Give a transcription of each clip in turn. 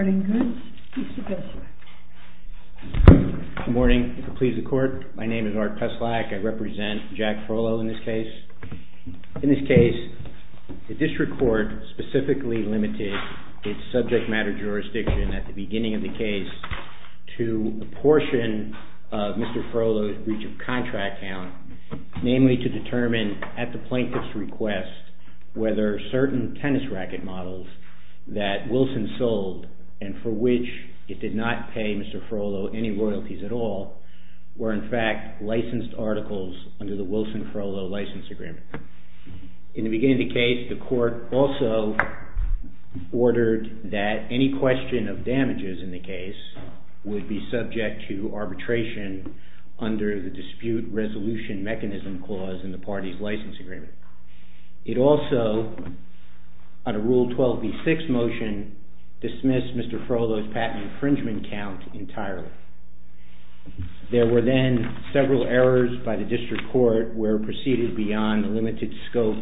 GOODS, ART PESELAK. In this case, the district court specifically limited its subject matter jurisdiction at the beginning of the case to a portion of Mr. Frohlow's breach of contract count, namely to determine at the plaintiff's request whether certain tennis racket models that Wilson sold and for which it did not pay Mr. Frohlow any royalties at all were, in fact, licensed articles. In the beginning of the case, the court also ordered that any question of damages in the case would be subject to arbitration under the dispute resolution mechanism clause in the party's license agreement. It also, under Rule 12b-6 motion, dismissed Mr. Frohlow's patent infringement count entirely. There were then several errors by the district court where it proceeded beyond the limited scope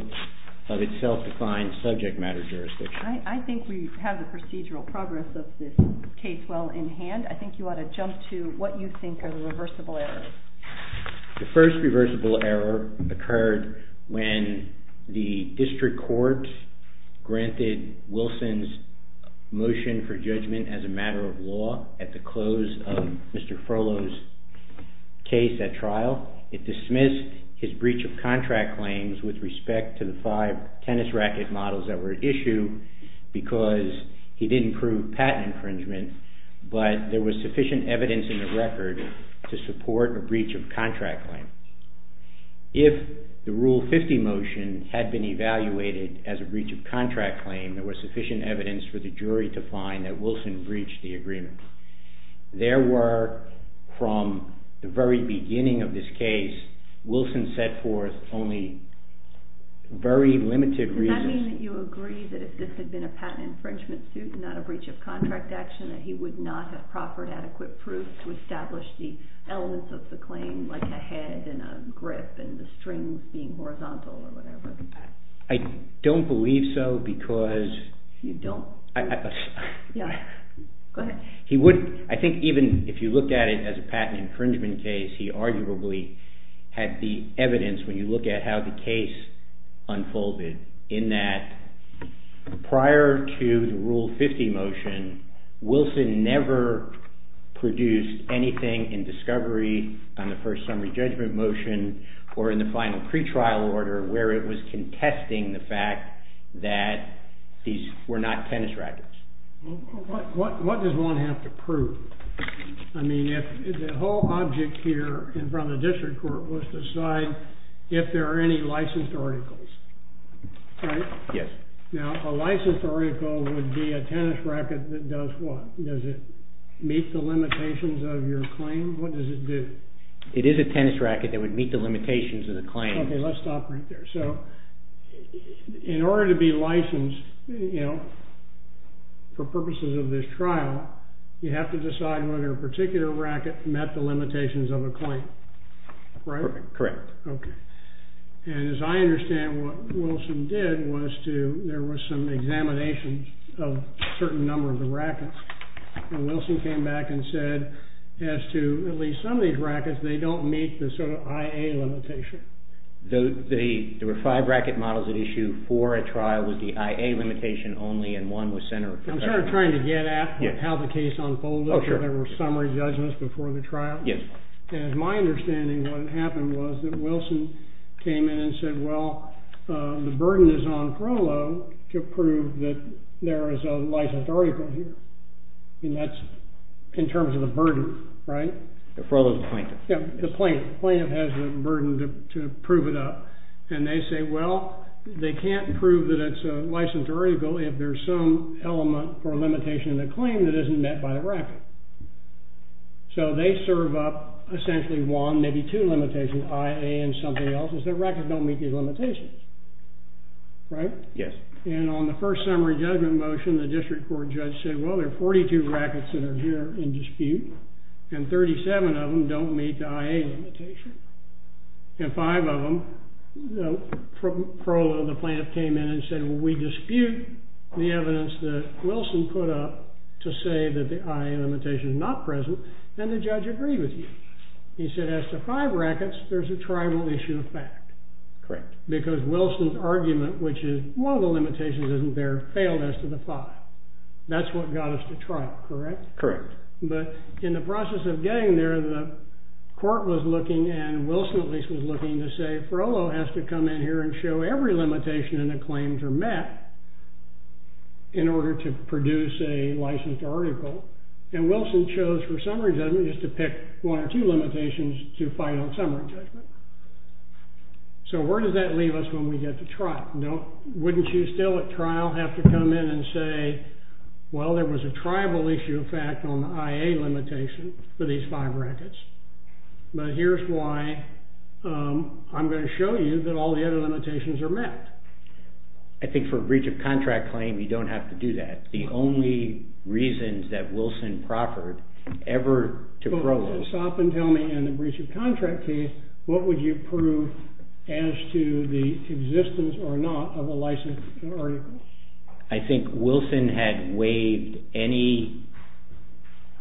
of its self-defined subject matter jurisdiction. I think we have the procedural progress of this case well in hand. I think you ought to jump to what you think are the reversible errors. The first reversible error occurred when the district court granted Wilson's motion for judgment as a matter of law at the close of Mr. Frohlow's case at trial. It dismissed his breach of contract claims with respect to the five tennis racket models that were at issue because he didn't prove patent infringement, but there was sufficient evidence in the record to support a breach of contract claim. If the Rule 50 motion had been evaluated as a breach of contract claim, there was sufficient evidence for the jury to find that Wilson breached the agreement. There were, from the very beginning of this case, Wilson set forth only very limited reasons. Does that mean that you agree that if this had been a patent infringement suit and not a breach of contract action that he would not have proffered adequate proof to establish the elements of the claim like a head and a grip and the strings being horizontal or whatever? I don't believe so because... You don't? Go ahead. Prior to the Rule 50 motion, Wilson never produced anything in discovery on the first summary judgment motion or in the final pretrial order where it was contesting the fact that these were not tennis rackets. What does one have to prove? I mean, the whole object here in front of the district court was to decide if there are any licensed articles. Right? Yes. Now, a licensed article would be a tennis racket that does what? Does it meet the limitations of your claim? What does it do? It is a tennis racket that would meet the limitations of the claim. Okay, let's stop right there. So, in order to be licensed, you know, for purposes of this trial, you have to decide whether a particular racket met the limitations of a claim. Right? Correct. Okay. And as I understand, what Wilson did was to, there were some examinations of a certain number of the rackets. And Wilson came back and said, as to at least some of these rackets, they don't meet the sort of I.A. limitation. There were five racket models at issue for a trial with the I.A. limitation only, and one was centered... I'm sort of trying to get at how the case unfolded. Oh, sure. There were summary judgments before the trial. Yes. And as my understanding, what happened was that Wilson came in and said, well, the burden is on Frohlo to prove that there is a licensed article here. And that's in terms of the burden, right? Frohlo's a plaintiff. Yeah, a plaintiff. Plaintiff has the burden to prove it up. And they say, well, they can't prove that it's a licensed article if there's some element or limitation in the claim that isn't met by the racket. So they serve up essentially one, maybe two limitations, I.A. and something else, is that rackets don't meet these limitations. Right? Yes. And on the first summary judgment motion, the district court judge said, well, there are 42 rackets that are here in dispute, and 37 of them don't meet the I.A. limitation. And five of them, Frohlo, the plaintiff, came in and said, well, we dispute the evidence that Wilson put up to say that the I.A. limitation is not present, and the judge agreed with you. He said, as to five rackets, there's a tribal issue of fact. Correct. Because Wilson's argument, which is one of the limitations isn't there, failed as to the five. That's what got us to trial, correct? Correct. But in the process of getting there, the court was looking, and Wilson at least was looking, to say, Frohlo has to come in here and show every limitation in the claims are met in order to produce a licensed article. And Wilson chose for summary judgment just to pick one or two limitations to fight on summary judgment. So where does that leave us when we get to trial? Wouldn't you still at trial have to come in and say, well, there was a tribal issue of fact on the I.A. limitation for these five rackets? But here's why. I'm going to show you that all the other limitations are met. I think for a breach of contract claim, you don't have to do that. The only reasons that Wilson proffered ever to Frohlo. Stop and tell me in the breach of contract case, what would you prove as to the existence or not of a licensed article? I think Wilson had waived any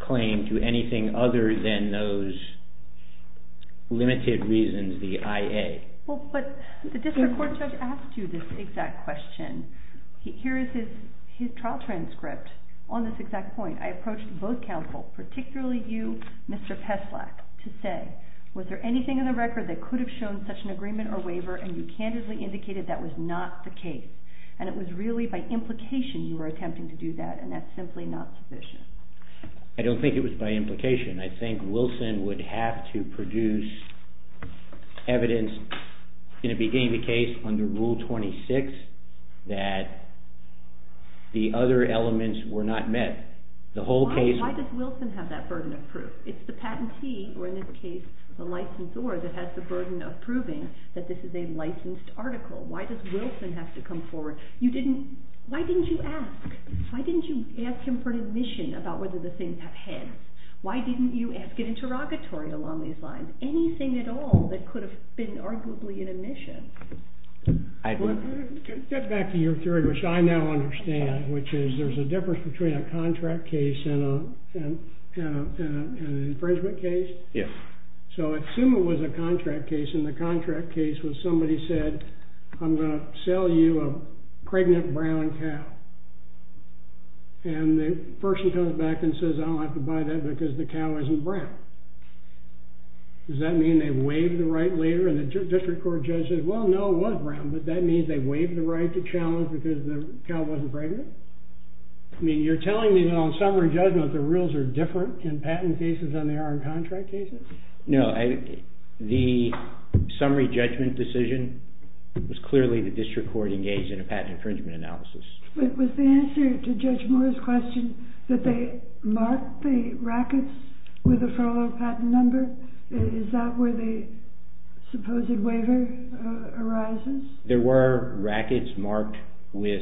claim to anything other than those limited reasons, the I.A. Well, but the district court judge asked you this exact question. Here is his trial transcript on this exact point. I approached both counsel, particularly you, Mr. Peslack, to say, was there anything in the record that could have shown such an agreement or waiver? And you candidly indicated that was not the case. And it was really by implication you were attempting to do that. And that's simply not sufficient. I don't think it was by implication. I think Wilson would have to produce evidence in the beginning of the case under Rule 26 that the other elements were not met. Why does Wilson have that burden of proof? It's the patentee, or in this case the licensor, that has the burden of proving that this is a licensed article. Why does Wilson have to come forward? Why didn't you ask? Why didn't you ask him for admission about whether the things have hence? Why didn't you ask an interrogatory along these lines? Anything at all that could have been arguably an admission. Get back to your theory, which I now understand, which is there's a difference between a contract case and an infringement case. Yes. So assume it was a contract case, and the contract case was somebody said, I'm going to sell you a pregnant brown cow. And the person comes back and says, I don't have to buy that because the cow isn't brown. Does that mean they waive the right later, and the district court judge says, well, no, it was brown, but that means they waived the right to challenge because the cow wasn't pregnant? I mean, you're telling me that on summary judgment the rules are different in patent cases than they are in contract cases? No. The summary judgment decision was clearly the district court engaged in a patent infringement analysis. Was the answer to Judge Moore's question that they marked the rackets with the Frollo patent number? Is that where the supposed waiver arises? There were rackets marked with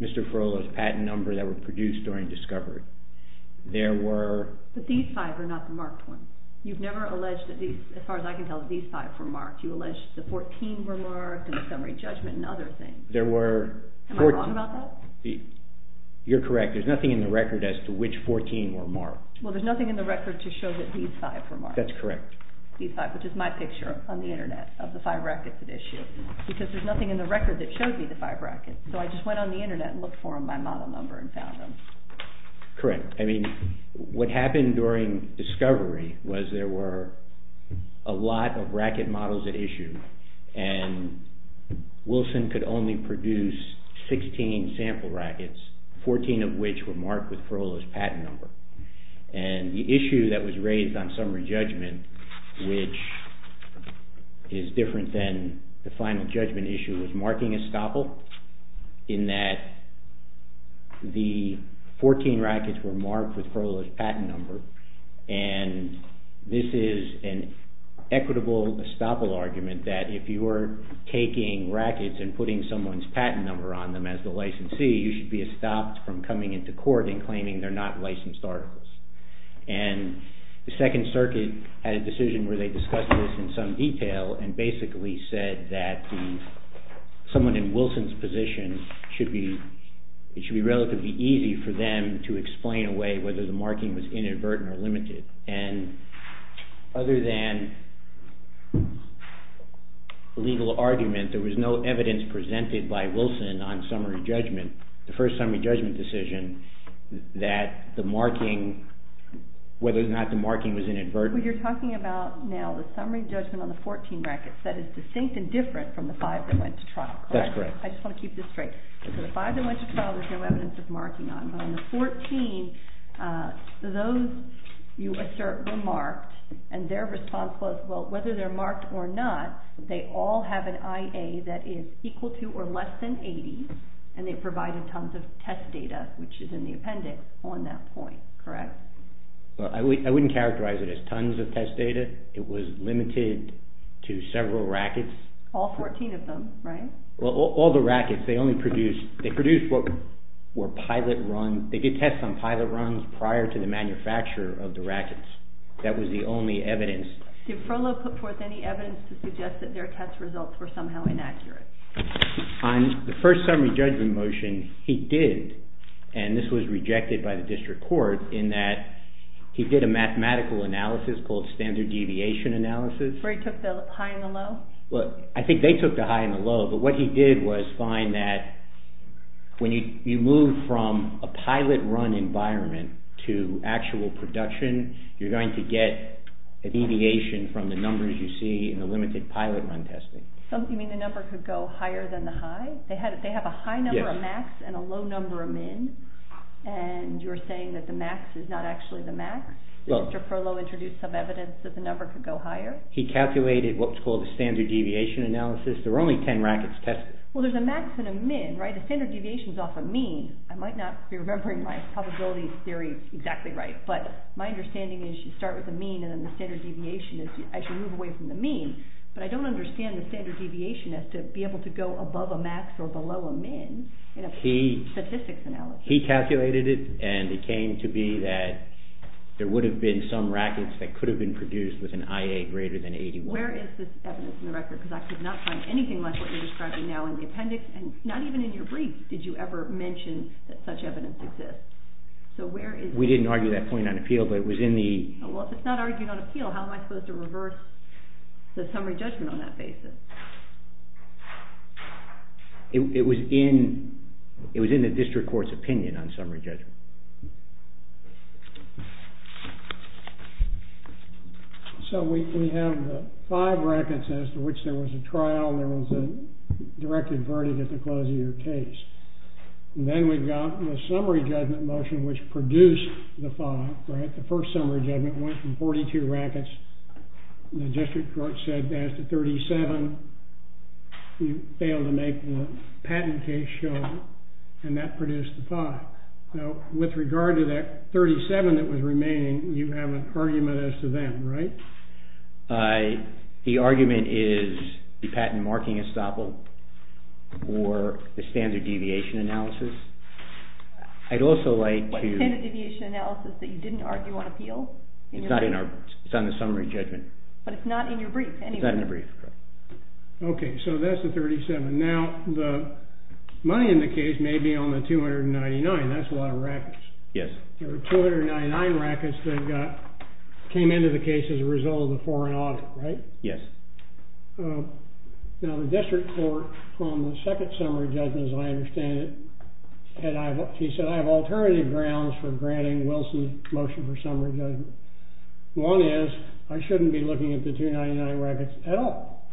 Mr. Frollo's patent number that were produced during discovery. But these five are not the marked ones. You've never alleged that these, as far as I can tell, these five were marked. You alleged the 14 were marked and the summary judgment and other things. Am I wrong about that? You're correct. There's nothing in the record as to which 14 were marked. Well, there's nothing in the record to show that these five were marked. That's correct. These five, which is my picture on the Internet of the five rackets at issue, because there's nothing in the record that showed me the five rackets. So I just went on the Internet and looked for them by model number and found them. Correct. I mean, what happened during discovery was there were a lot of racket models at issue, and Wilson could only produce 16 sample rackets, 14 of which were marked with Frollo's patent number. And the issue that was raised on summary judgment, which is different than the final judgment issue, was marking estoppel, in that the 14 rackets were marked with Frollo's patent number, and this is an equitable estoppel argument that if you were taking rackets and putting someone's patent number on them as the licensee, you should be estopped from coming into court and claiming they're not licensed articles. And the Second Circuit had a decision where they discussed this in some detail and basically said that someone in Wilson's position, it should be relatively easy for them to explain away whether the marking was inadvertent or limited. And other than legal argument, there was no evidence presented by Wilson on summary judgment, the first summary judgment decision, that the marking, whether or not the marking was inadvertent. What you're talking about now, the summary judgment on the 14 rackets, that is distinct and different from the five that went to trial, correct? That's correct. I just want to keep this straight. The five that went to trial there's no evidence of marking on, but on the 14, those you assert were marked, and their response was, well, whether they're marked or not, they all have an IA that is equal to or less than 80, and they provided tons of test data, which is in the appendix on that point, correct? I wouldn't characterize it as tons of test data. It was limited to several rackets. All 14 of them, right? Well, all the rackets, they only produced, they produced what were pilot run, they did tests on pilot runs prior to the manufacture of the rackets. That was the only evidence. Did Frohlo put forth any evidence to suggest that their test results were somehow inaccurate? On the first summary judgment motion, he did, and this was rejected by the district court, in that he did a mathematical analysis called standard deviation analysis. Where he took the high and the low? Well, I think they took the high and the low, but what he did was find that when you move from a pilot run environment to actual production, you're going to get a deviation from the numbers you see in the limited pilot run testing. You mean the number could go higher than the high? They have a high number of max and a low number of min, and you're saying that the max is not actually the max? Did Mr. Frohlo introduce some evidence that the number could go higher? He calculated what's called a standard deviation analysis. There were only 10 rackets tested. Well, there's a max and a min, right? The standard deviation is off a mean. I might not be remembering my probability theory exactly right, but my understanding is you start with a mean, and then the standard deviation is, I should move away from the mean, but I don't understand the standard deviation as to be able to go above a max or below a min in a statistics analysis. He calculated it, and it came to be that there would have been some rackets that could have been produced with an IA greater than 81. Where is this evidence in the record? Because I could not find anything like what you're describing now in the appendix, and not even in your brief did you ever mention that such evidence exists. So where is it? We didn't argue that point on appeal, but it was in the… Well, if it's not argued on appeal, how am I supposed to reverse the summary judgment on that basis? It was in the district court's opinion on summary judgment. So we have the five rackets as to which there was a trial and there was a directed verdict at the close of your case. And then we've got the summary judgment motion which produced the five, right? The first summary judgment went from 42 rackets. The district court said as to 37, you failed to make the patent case show, and that produced the five. Now, with regard to that 37 that was remaining, you have an argument as to that, right? The argument is the patent marking estoppel or the standard deviation analysis. I'd also like to… It's not in our brief. It's on the summary judgment. But it's not in your brief anyway. It's not in the brief. Okay, so that's the 37. Now, the money in the case may be on the 299. That's a lot of rackets. Yes. There were 299 rackets that came into the case as a result of the foreign audit, right? Yes. Now, the district court on the second summary judgment, as I understand it, and he said I have alternative grounds for granting Wilson's motion for summary judgment. One is I shouldn't be looking at the 299 rackets at all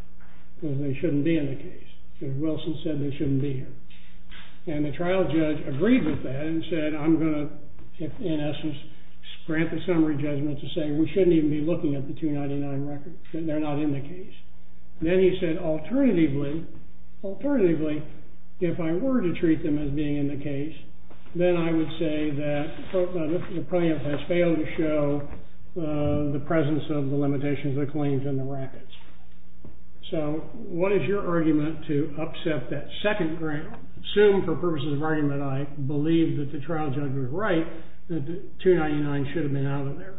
because they shouldn't be in the case. Because Wilson said they shouldn't be here. And the trial judge agreed with that and said I'm going to, in essence, grant the summary judgment to say we shouldn't even be looking at the 299 rackets. They're not in the case. Then he said alternatively, alternatively, if I were to treat them as being in the case, then I would say that the plaintiff has failed to show the presence of the limitations of the claims and the rackets. So what is your argument to upset that second ground? Assume for purposes of argument I believe that the trial judge was right, that the 299 should have been out of there.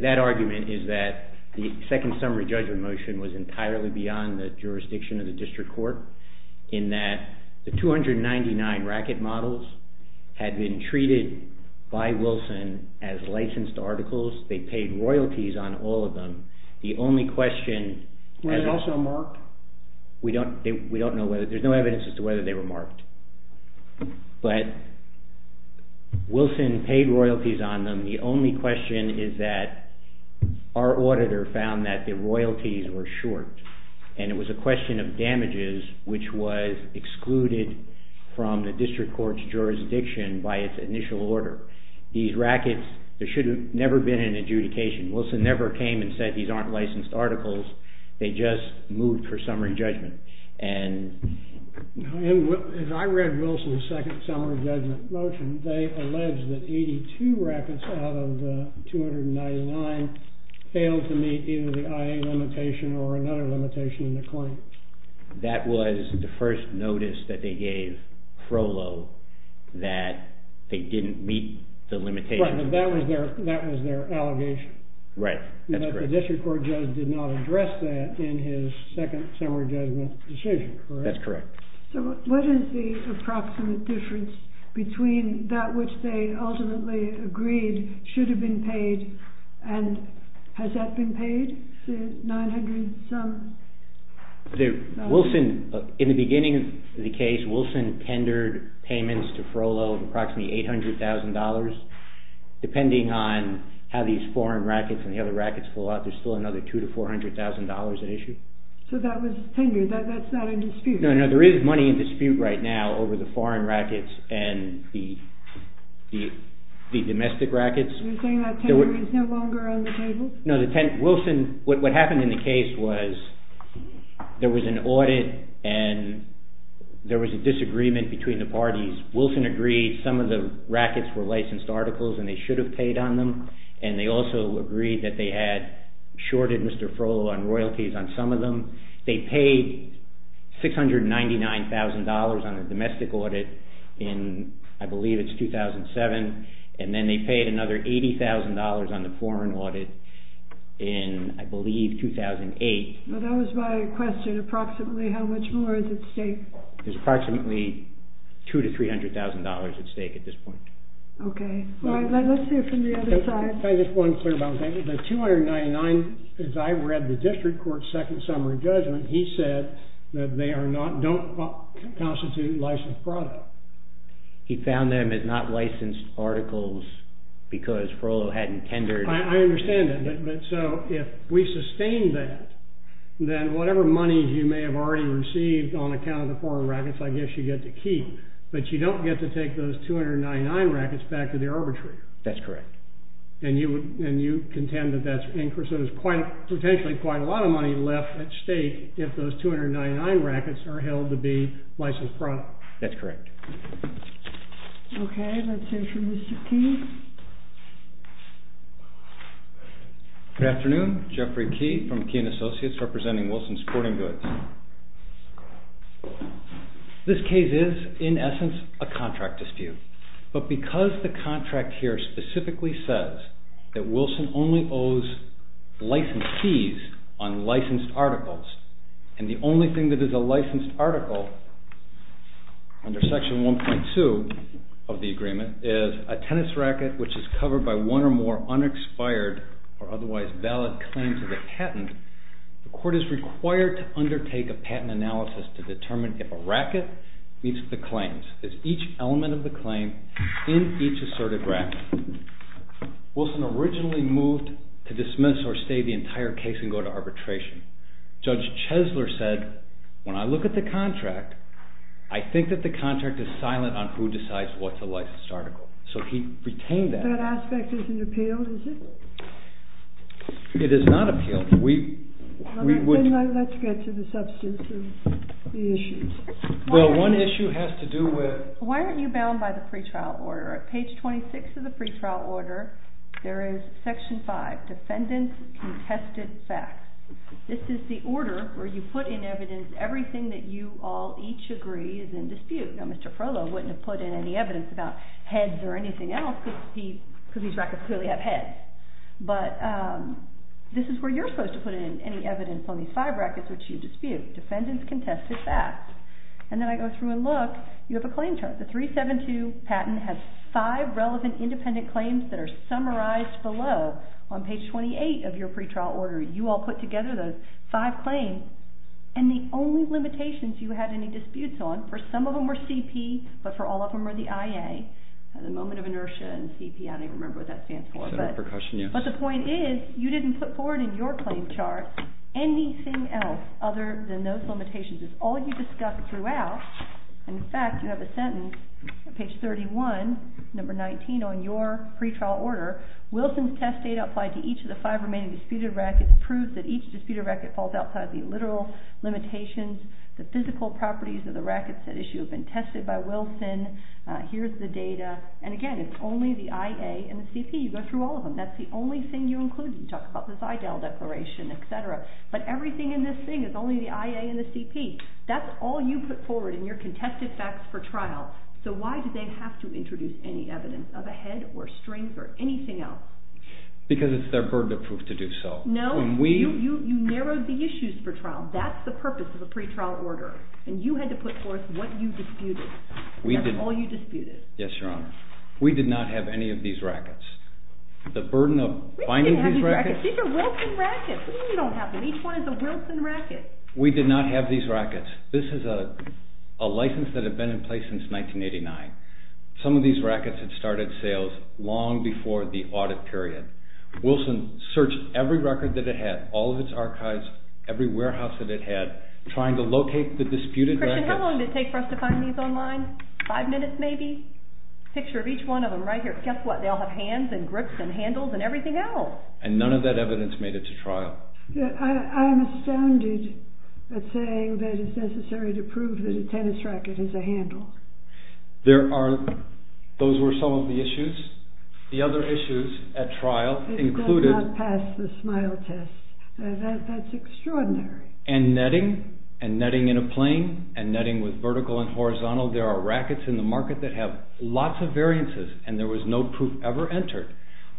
That argument is that the second summary judgment motion was entirely beyond the jurisdiction of the district court in that the 299 racket models had been treated by Wilson as licensed articles. They paid royalties on all of them. The only question... Were they also marked? We don't know whether, there's no evidence as to whether they were marked. But Wilson paid royalties on them. The only question is that our auditor found that the royalties were short and it was a question of damages which was excluded from the district court's jurisdiction by its initial order. These rackets, there should have never been an adjudication. Wilson never came and said these aren't licensed articles. They just moved for summary judgment. If I read Wilson's second summary judgment motion, they allege that 82 rackets out of the 299 failed to meet either the IA limitation or another limitation in the claim. That was the first notice that they gave Frollo that they didn't meet the limitations. Right, but that was their allegation. Right, that's correct. The district court judge did not address that in his second summary judgment decision, correct? That's correct. So what is the approximate difference between that which they ultimately agreed should have been paid and has that been paid, the 900-some? In the beginning of the case, Wilson tendered payments to Frollo of approximately $800,000. Depending on how these foreign rackets and the other rackets fall out, there's still another $200,000 to $400,000 at issue. So that was tenured, that's not in dispute? No, there is money in dispute right now over the foreign rackets and the domestic rackets. You're saying that tenure is no longer on the table? No, Wilson, what happened in the case was there was an audit and there was a disagreement between the parties. Wilson agreed some of the rackets were licensed articles and they should have paid on them, and they also agreed that they had shorted Mr. Frollo on royalties on some of them. They paid $699,000 on the domestic audit in, I believe it's 2007, and then they paid another $80,000 on the foreign audit in, I believe, 2008. Well, that was my question. Approximately how much more is at stake? There's approximately $200,000 to $300,000 at stake at this point. Okay. Let's hear from the other side. If I just want to clear about one thing, the $299,000, as I read the district court's second summary judgment, he said that they don't constitute licensed product. He found them as not licensed articles because Frollo hadn't tendered. I understand that, but so if we sustain that, then whatever money you may have already received on account of the foreign rackets, I guess you get to keep, but you don't get to take those $299,000 rackets back to the arbitrator. That's correct. And you contend that that's increased. So there's potentially quite a lot of money left at stake if those $299,000 rackets are held to be licensed product. That's correct. Okay. Let's hear from Mr. Key. Good afternoon. Jeffrey Key from Key & Associates representing Wilson Sporting Goods. This case is, in essence, a contract dispute, but because the contract here specifically says that Wilson only owes license fees on licensed articles and the only thing that is a licensed article under Section 1.2 of the agreement is a tennis racket which is covered by one or more The court is required to undertake a patent analysis to determine if a racket meets the claims. Is each element of the claim in each asserted racket? Wilson originally moved to dismiss or stay the entire case and go to arbitration. Judge Chesler said, when I look at the contract, I think that the contract is silent on who decides what's a licensed article. So he retained that. That aspect isn't appealed, is it? It is not appealed. Let's get to the substance of the issues. Well, one issue has to do with... Why aren't you bound by the pretrial order? At page 26 of the pretrial order, there is Section 5, Defendant's Contested Facts. This is the order where you put in evidence everything that you all each agree is in dispute. Mr. Frohlo wouldn't have put in any evidence about heads or anything else because these rackets clearly have heads. But this is where you're supposed to put in any evidence on these five rackets which you dispute. Defendant's Contested Facts. And then I go through and look. You have a claim chart. The 372 patent has five relevant independent claims that are summarized below on page 28 of your pretrial order. You all put together those five claims and the only limitations you had any disputes on, for some of them were CP, but for all of them were the IA. At the moment of inertia and CP, I don't even remember what that stands for. But the point is you didn't put forward in your claim chart anything else other than those limitations. It's all you discussed throughout. In fact, you have a sentence on page 31, number 19, on your pretrial order. Wilson's test data applied to each of the five remaining disputed rackets proves that each disputed racket falls outside the literal limitations. The physical properties of the rackets at issue have been tested by Wilson. Here's the data. And again, it's only the IA and the CP. You go through all of them. That's the only thing you include. You talk about the Seidel Declaration, et cetera. But everything in this thing is only the IA and the CP. That's all you put forward in your contested facts for trial. So why did they have to introduce any evidence of a head or strings or anything else? Because it's their burden of proof to do so. No. You narrowed the issues for trial. That's the purpose of a pretrial order. And you had to put forth what you disputed. That's all you disputed. Yes, Your Honor. We did not have any of these rackets. The burden of finding these rackets... We didn't have these rackets. These are Wilson rackets. What do you mean you don't have them? Each one is a Wilson racket. We did not have these rackets. This is a license that had been in place since 1989. Some of these rackets had started sales long before the audit period. Wilson searched every record that it had, all of its archives, every warehouse that it had, trying to locate the disputed rackets... Christian, how long did it take for us to find these online? Five minutes, maybe? Picture of each one of them right here. Guess what? They all have hands and grips and handles and everything else. And none of that evidence made it to trial. I'm astounded at saying that it's necessary to prove that a tennis racket is a handle. Those were some of the issues. The other issues at trial included... It does not pass the SMILE test. That's extraordinary. And netting. And netting in a plane. And netting with vertical and horizontal. There are rackets in the market that have lots of variances, and there was no proof ever entered.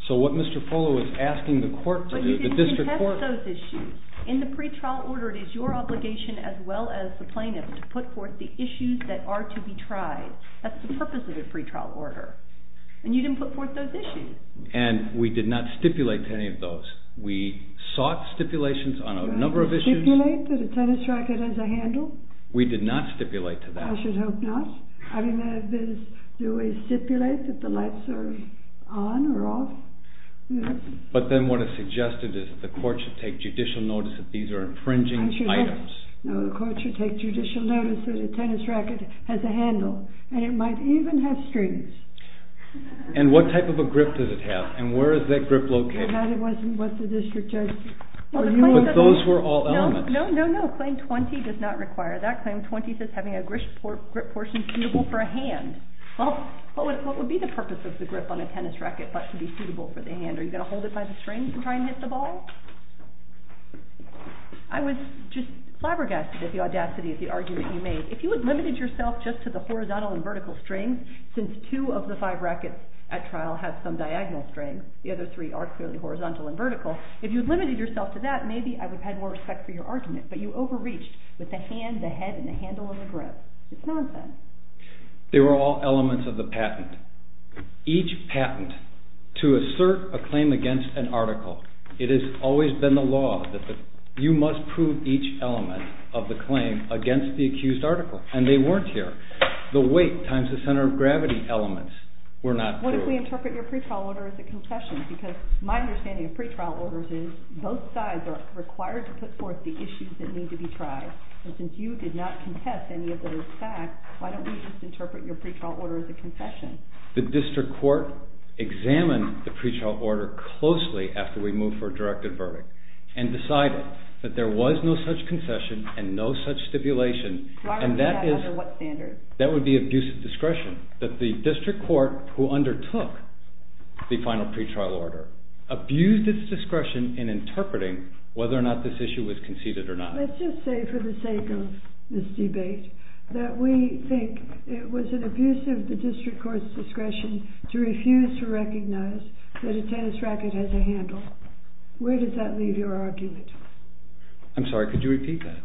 So what Mr. Fuller was asking the court... But you didn't contest those issues. In the pretrial order, it is your obligation, as well as the plaintiff's, to put forth the issues that are to be tried. That's the purpose of a pretrial order. And you didn't put forth those issues. And we did not stipulate to any of those. We sought stipulations on a number of issues. Did you stipulate that a tennis racket has a handle? We did not stipulate to that. I should hope not. I mean, do we stipulate that the lights are on or off? But then what is suggested is that the court should take judicial notice that these are infringing items. No, the court should take judicial notice that a tennis racket has a handle. And it might even have strings. And what type of a grip does it have? And where is that grip located? That wasn't what the district judge... But those were all elements. No, no, no. Claim 20 does not require that. Claim 20 says having a grip portion suitable for a hand. Well, what would be the purpose of the grip on a tennis racket but to be suitable for the hand? Are you going to hold it by the strings and try and hit the ball? I was just flabbergasted at the audacity of the argument you made. If you had limited yourself just to the horizontal and vertical strings, since two of the five rackets at trial have some diagonal strings, the other three are clearly horizontal and vertical, if you had limited yourself to that, maybe I would have had more respect for your argument. But you overreached with the hand, the head, and the handle and the grip. It's nonsense. They were all elements of the patent. Each patent, to assert a claim against an article, it has always been the law that you must prove each element of the claim against the accused article. And they weren't here. The weight times the center of gravity elements were not there. What if we interpret your pretrial order as a concession? Because my understanding of pretrial orders is that both sides are required to put forth the issues that need to be tried. And since you did not contest any of those facts, why don't we just interpret your pretrial order as a concession? The district court examined the pretrial order closely after we moved for a directive verdict and decided that there was no such concession and no such stipulation. Why was that? Under what standards? That would be abuse of discretion. That the district court who undertook the final pretrial order abused its discretion in interpreting whether or not this issue was conceded or not. Let's just say for the sake of this debate that we think it was an abuse of the district court's discretion to refuse to recognize that a tennis racket has a handle. Where does that leave your argument? I'm sorry, could you repeat that?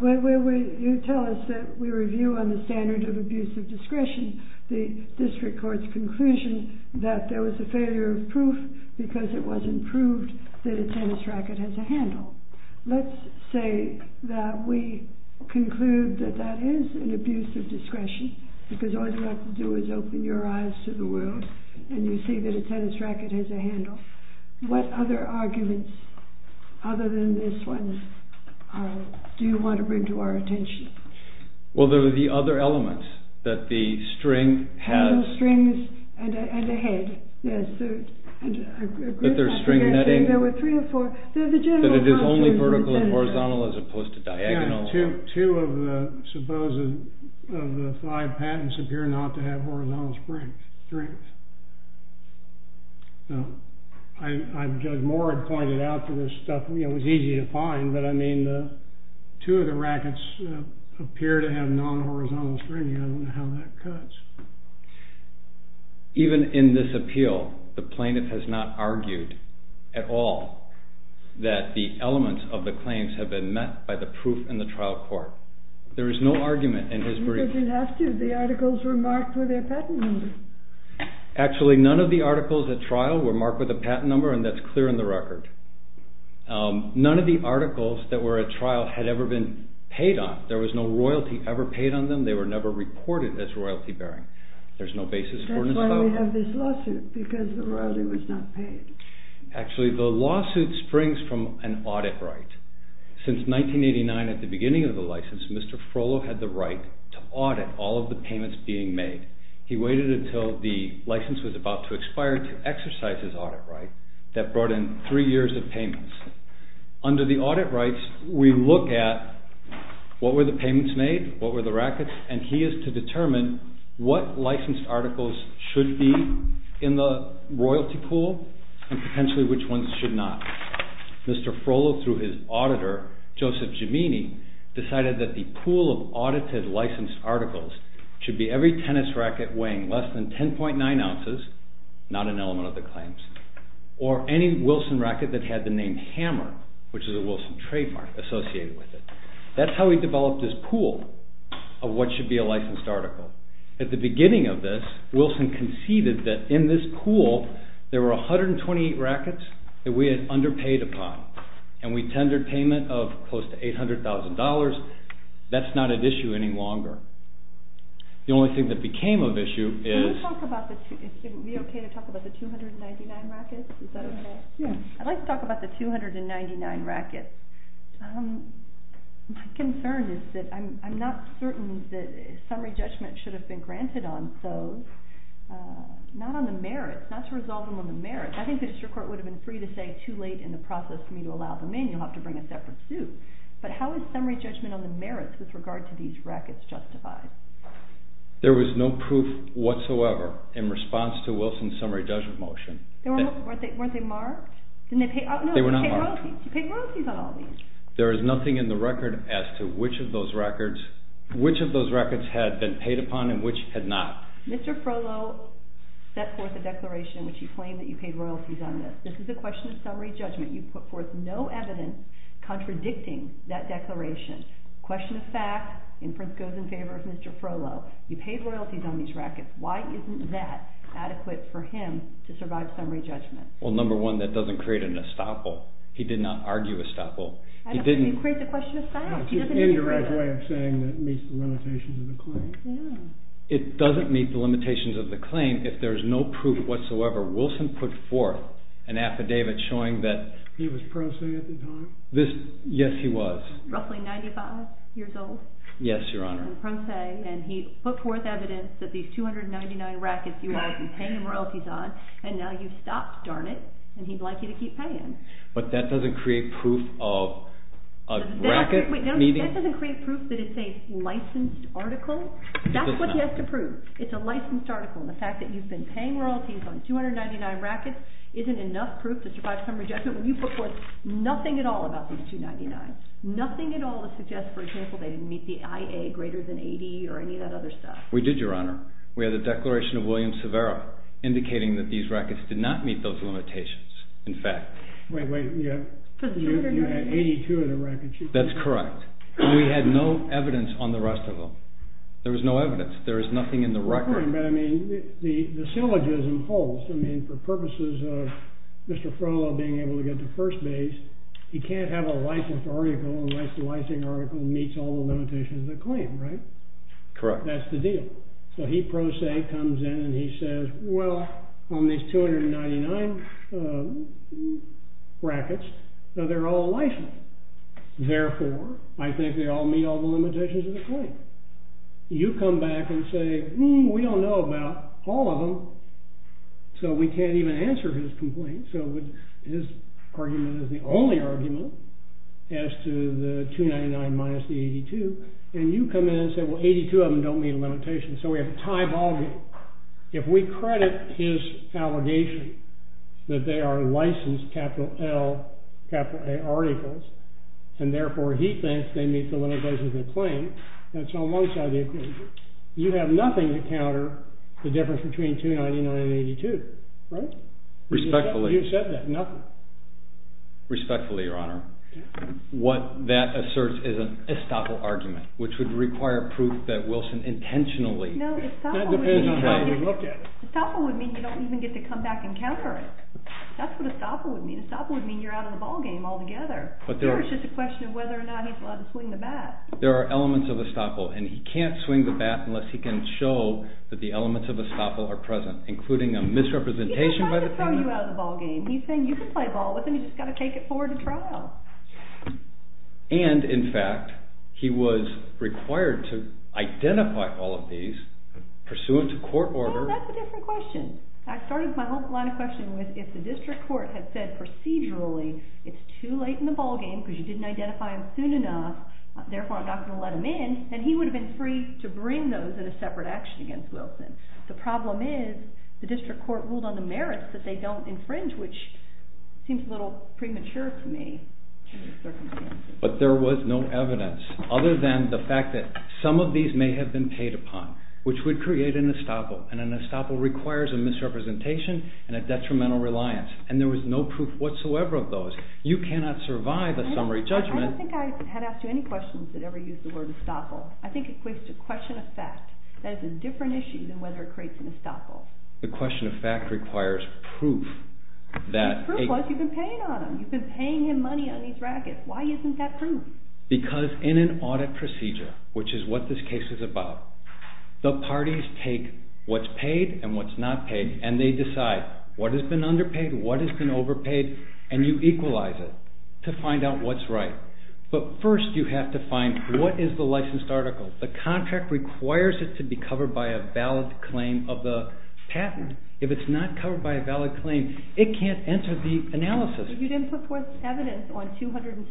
When you tell us that we review on the standard of abuse of discretion the district court's conclusion that there was a failure of proof because it wasn't proved that a tennis racket has a handle. Let's say that we conclude that that is an abuse of discretion because all you have to do is open your eyes to the world and you see that a tennis racket has a handle. What other arguments, other than this one, do you want to bring to our attention? Well, there are the other elements. That the string has... The strings and the head. That there's string netting. There were three or four. That it is only vertical and horizontal as opposed to diagonal. Yeah, two of the five patents appear not to have horizontal strings. Now, Judge Moore had pointed out to this stuff, it was easy to find, but I mean, two of the rackets appear to have non-horizontal strings. I don't know how that cuts. Even in this appeal, the plaintiff has not argued at all that the elements of the claims have been met by the proof in the trial court. There is no argument in his brief. He doesn't have to. The articles were marked with their patent number. Actually, none of the articles at trial were marked with a patent number and that's clear in the record. None of the articles that were at trial had ever been paid on. There was no royalty ever paid on them. They were never reported as royalty bearing. There's no basis for... That's why we have this lawsuit, because the royalty was not paid. Actually, the lawsuit springs from an audit right. Since 1989, at the beginning of the license, Mr. Frollo had the right to audit all of the payments being made. He waited until the license was about to expire to exercise his audit right. That brought in three years of payments. Under the audit rights, we look at what were the payments made, what were the rackets, and he is to determine what licensed articles should be in the royalty pool and potentially which ones should not. Mr. Frollo, through his auditor, Joseph Gemini, decided that the pool of audited licensed articles should be every tennis racket weighing less than 10.9 ounces, not an element of the claims, or any Wilson racket that had the name Hammer, which is a Wilson trademark associated with it. That's how we developed this pool of what should be a licensed article. At the beginning of this, Wilson conceded that in this pool there were 128 rackets that we had underpaid upon and we tendered payment of close to $800,000. That's not at issue any longer. The only thing that became of issue is... Would it be okay to talk about the 299 rackets? Is that okay? I'd like to talk about the 299 rackets. My concern is that I'm not certain that summary judgment should have been granted on those, not on the merits, not to resolve them on the merits. I think the district court would have been free to say too late in the process for me to allow them in. You'll have to bring a separate suit. But how is summary judgment on the merits with regard to these rackets justified? There was no proof whatsoever in response to Wilson's summary judgment motion. Weren't they marked? They were not marked. You paid royalties on all these. There is nothing in the record as to which of those records had been paid upon and which had not. Mr. Frohlo set forth a declaration in which he claimed that you paid royalties on this. This is a question of summary judgment. You put forth no evidence contradicting that declaration. Question of fact, inference goes in favor of Mr. Frohlo. You paid royalties on these rackets. Why isn't that adequate for him to survive summary judgment? Well, number one, that doesn't create an estoppel. He did not argue estoppel. You create the question of fact. It's an indirect way of saying that it meets the limitations of the claim. It doesn't meet the limitations of the claim if there's no proof whatsoever. Wilson put forth an affidavit showing that... He was pro se at the time? Yes, he was. Roughly 95 years old? Yes, Your Honor. He was pro se, and he put forth evidence that these 299 rackets you are paying royalties on, and now you've stopped, darn it, and he'd like you to keep paying. But that doesn't create proof of a racket meeting? That doesn't create proof that it's a licensed article. That's what you have to prove. It's a licensed article, and the fact that you've been paying royalties on 299 rackets isn't enough proof to survive summary judgment when you put forth nothing at all about these 299. Nothing at all to suggest, for example, they didn't meet the IA greater than 80 or any of that other stuff. We did, Your Honor. We had the declaration of William Severo indicating that these rackets did not meet those limitations. In fact... Wait, wait, you had 82 of the rackets. That's correct. And we had no evidence on the rest of them. There was no evidence. There is nothing in the record. But I mean, the syllogism holds. I mean, for purposes of Mr. Frollo being able to get to first base, he can't have a licensed article unless the licensing article meets all the limitations of the claim, right? Correct. That's the deal. So he pro se comes in and he says, well, on these 299 rackets, they're all licensed. Therefore, I think they all meet all the limitations of the claim. You come back and say, hmm, we don't know about all of them, so we can't even answer his complaint. So his argument is the only argument as to the 299 minus the 82. And you come in and say, well, 82 of them don't meet a limitation, so we have a tie ballgame. If we credit his allegation that they are licensed capital L, capital A articles, and therefore he thinks they meet the limitations of the claim, and it's on one side of the equation, you have nothing to counter the difference between 299 and 82, right? Respectfully. You said that, nothing. Respectfully, Your Honor. What that asserts is an estoppel argument, which would require proof that Wilson intentionally... No, estoppel would mean... That depends on how you look at it. Estoppel would mean you don't even get to come back and counter it. That's what estoppel would mean. Estoppel would mean you're out of the ballgame altogether. It's just a question of whether or not he's allowed to swing the bat. There are elements of estoppel, and he can't swing the bat unless he can show that the elements of estoppel are present, including a misrepresentation by the... He's not trying to throw you out of the ballgame. He's saying you can play ball with him, you just got to take it forward to trial. And, in fact, he was required to identify all of these, pursuant to court order... No, that's a different question. I started my whole line of questioning with if the district court had said procedurally it's too late in the ballgame because you didn't identify him soon enough, therefore I'm not going to let him in, then he would have been free to bring those in a separate action against Wilson. The problem is the district court ruled on the merits that they don't infringe, which seems a little premature to me. But there was no evidence, other than the fact that some of these may have been paid upon, which would create an estoppel, and an estoppel requires a misrepresentation and a detrimental reliance, and there was no proof whatsoever of those. You cannot survive a summary judgment... I don't think I had asked you any questions that ever used the word estoppel. I think it's a question of fact. That is a different issue than whether it creates an estoppel. The question of fact requires proof that... The proof was you've been paying on him. You've been paying him money on these rackets. Why isn't that proof? Because in an audit procedure, which is what this case is about, the parties take what's paid and what's not paid and they decide what has been underpaid, what has been overpaid, and you equalize it to find out what's right. But first you have to find what is the licensed article. The contract requires it to be covered by a valid claim of the patent. If it's not covered by a valid claim, it can't enter the analysis. But you didn't put forth evidence on 217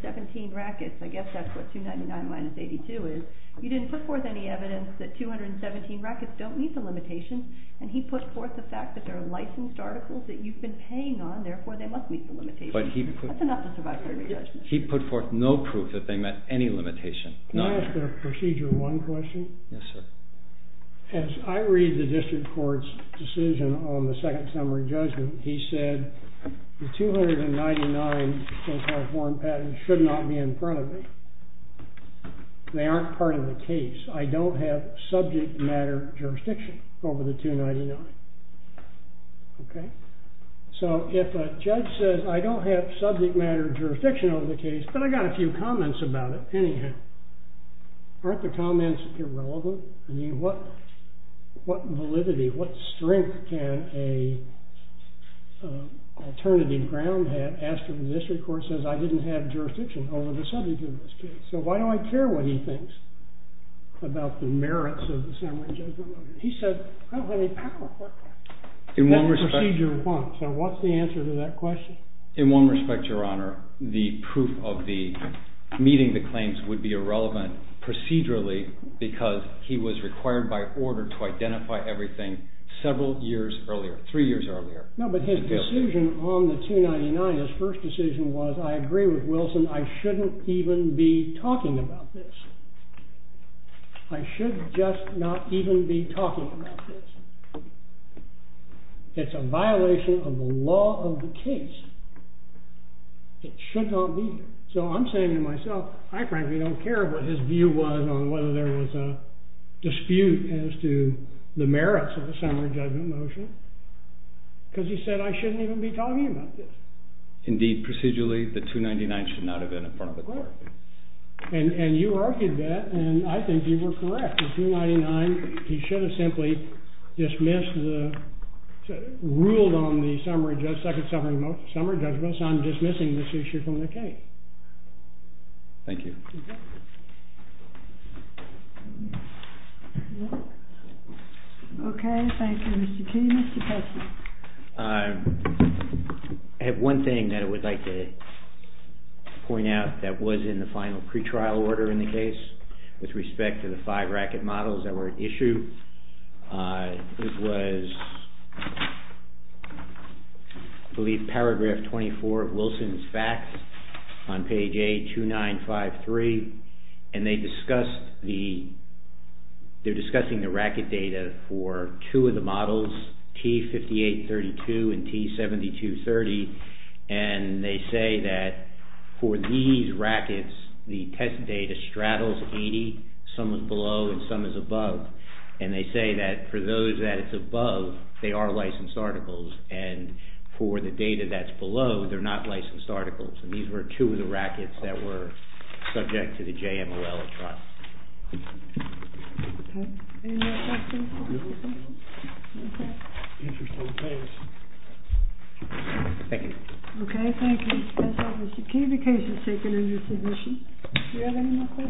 rackets. I guess that's what 299 minus 82 is. You didn't put forth any evidence that 217 rackets don't meet the limitations, and he put forth the fact that they're licensed articles that you've been paying on, therefore they must meet the limitations. That's enough to survive a summary judgment. He put forth no proof that they met any limitation. Can I ask a Procedure 1 question? Yes, sir. As I read the district court's decision on the second summary judgment, he said the 299 case law form patents should not be in front of me. They aren't part of the case. I don't have subject matter jurisdiction over the 299. Okay? So if a judge says, I don't have subject matter jurisdiction over the case, but I got a few comments about it, anyhow, aren't the comments irrelevant? I mean, what validity, what strength can an alternative ground have after the district court says I didn't have jurisdiction over the subject of this case? So why do I care what he thinks about the merits of the summary judgment? He said, I don't have any power over that. That's Procedure 1. So what's the answer to that question? In one respect, Your Honor, the proof of the meeting the claims would be irrelevant procedurally because he was required by order to identify everything several years earlier, three years earlier. No, but his decision on the 299, his first decision was, I agree with Wilson. I shouldn't even be talking about this. I should just not even be talking about this. It's a violation of the law of the case. It should not be. So I'm saying to myself, I frankly don't care what his view was on whether there was a dispute as to the merits of the summary judgment motion because he said I shouldn't even be talking about this. Indeed, procedurally, the 299 should not have been in front of the court. And you argued that, and I think you were correct. The 299, he should have simply dismissed the, ruled on the summary, the second summary judgment. So I'm dismissing this issue from the case. Thank you. Okay, thank you, Mr. King. Mr. Kessler. I have one thing that I would like to point out that was in the final pretrial order in the case with respect to the five racket models that were issued. This was, I believe, paragraph 24 of Wilson's facts on page A2953. And they discussed the, they're discussing the racket data for two of the models, T5832 and T7230. And they say that for these rackets, the test data straddles 80, some is below and some is above. And they say that for those that it's above, they are licensed articles. And for the data that's below, they're not licensed articles. And these were two of the rackets that were subject to the JMOL trial. Okay. Any more questions? No. Okay. Interesting case. Thank you. Okay, thank you. Ms. Kessler, this is Katie Kessler speaking as your physician. Do you have any more questions? No, I'm good. Thank you.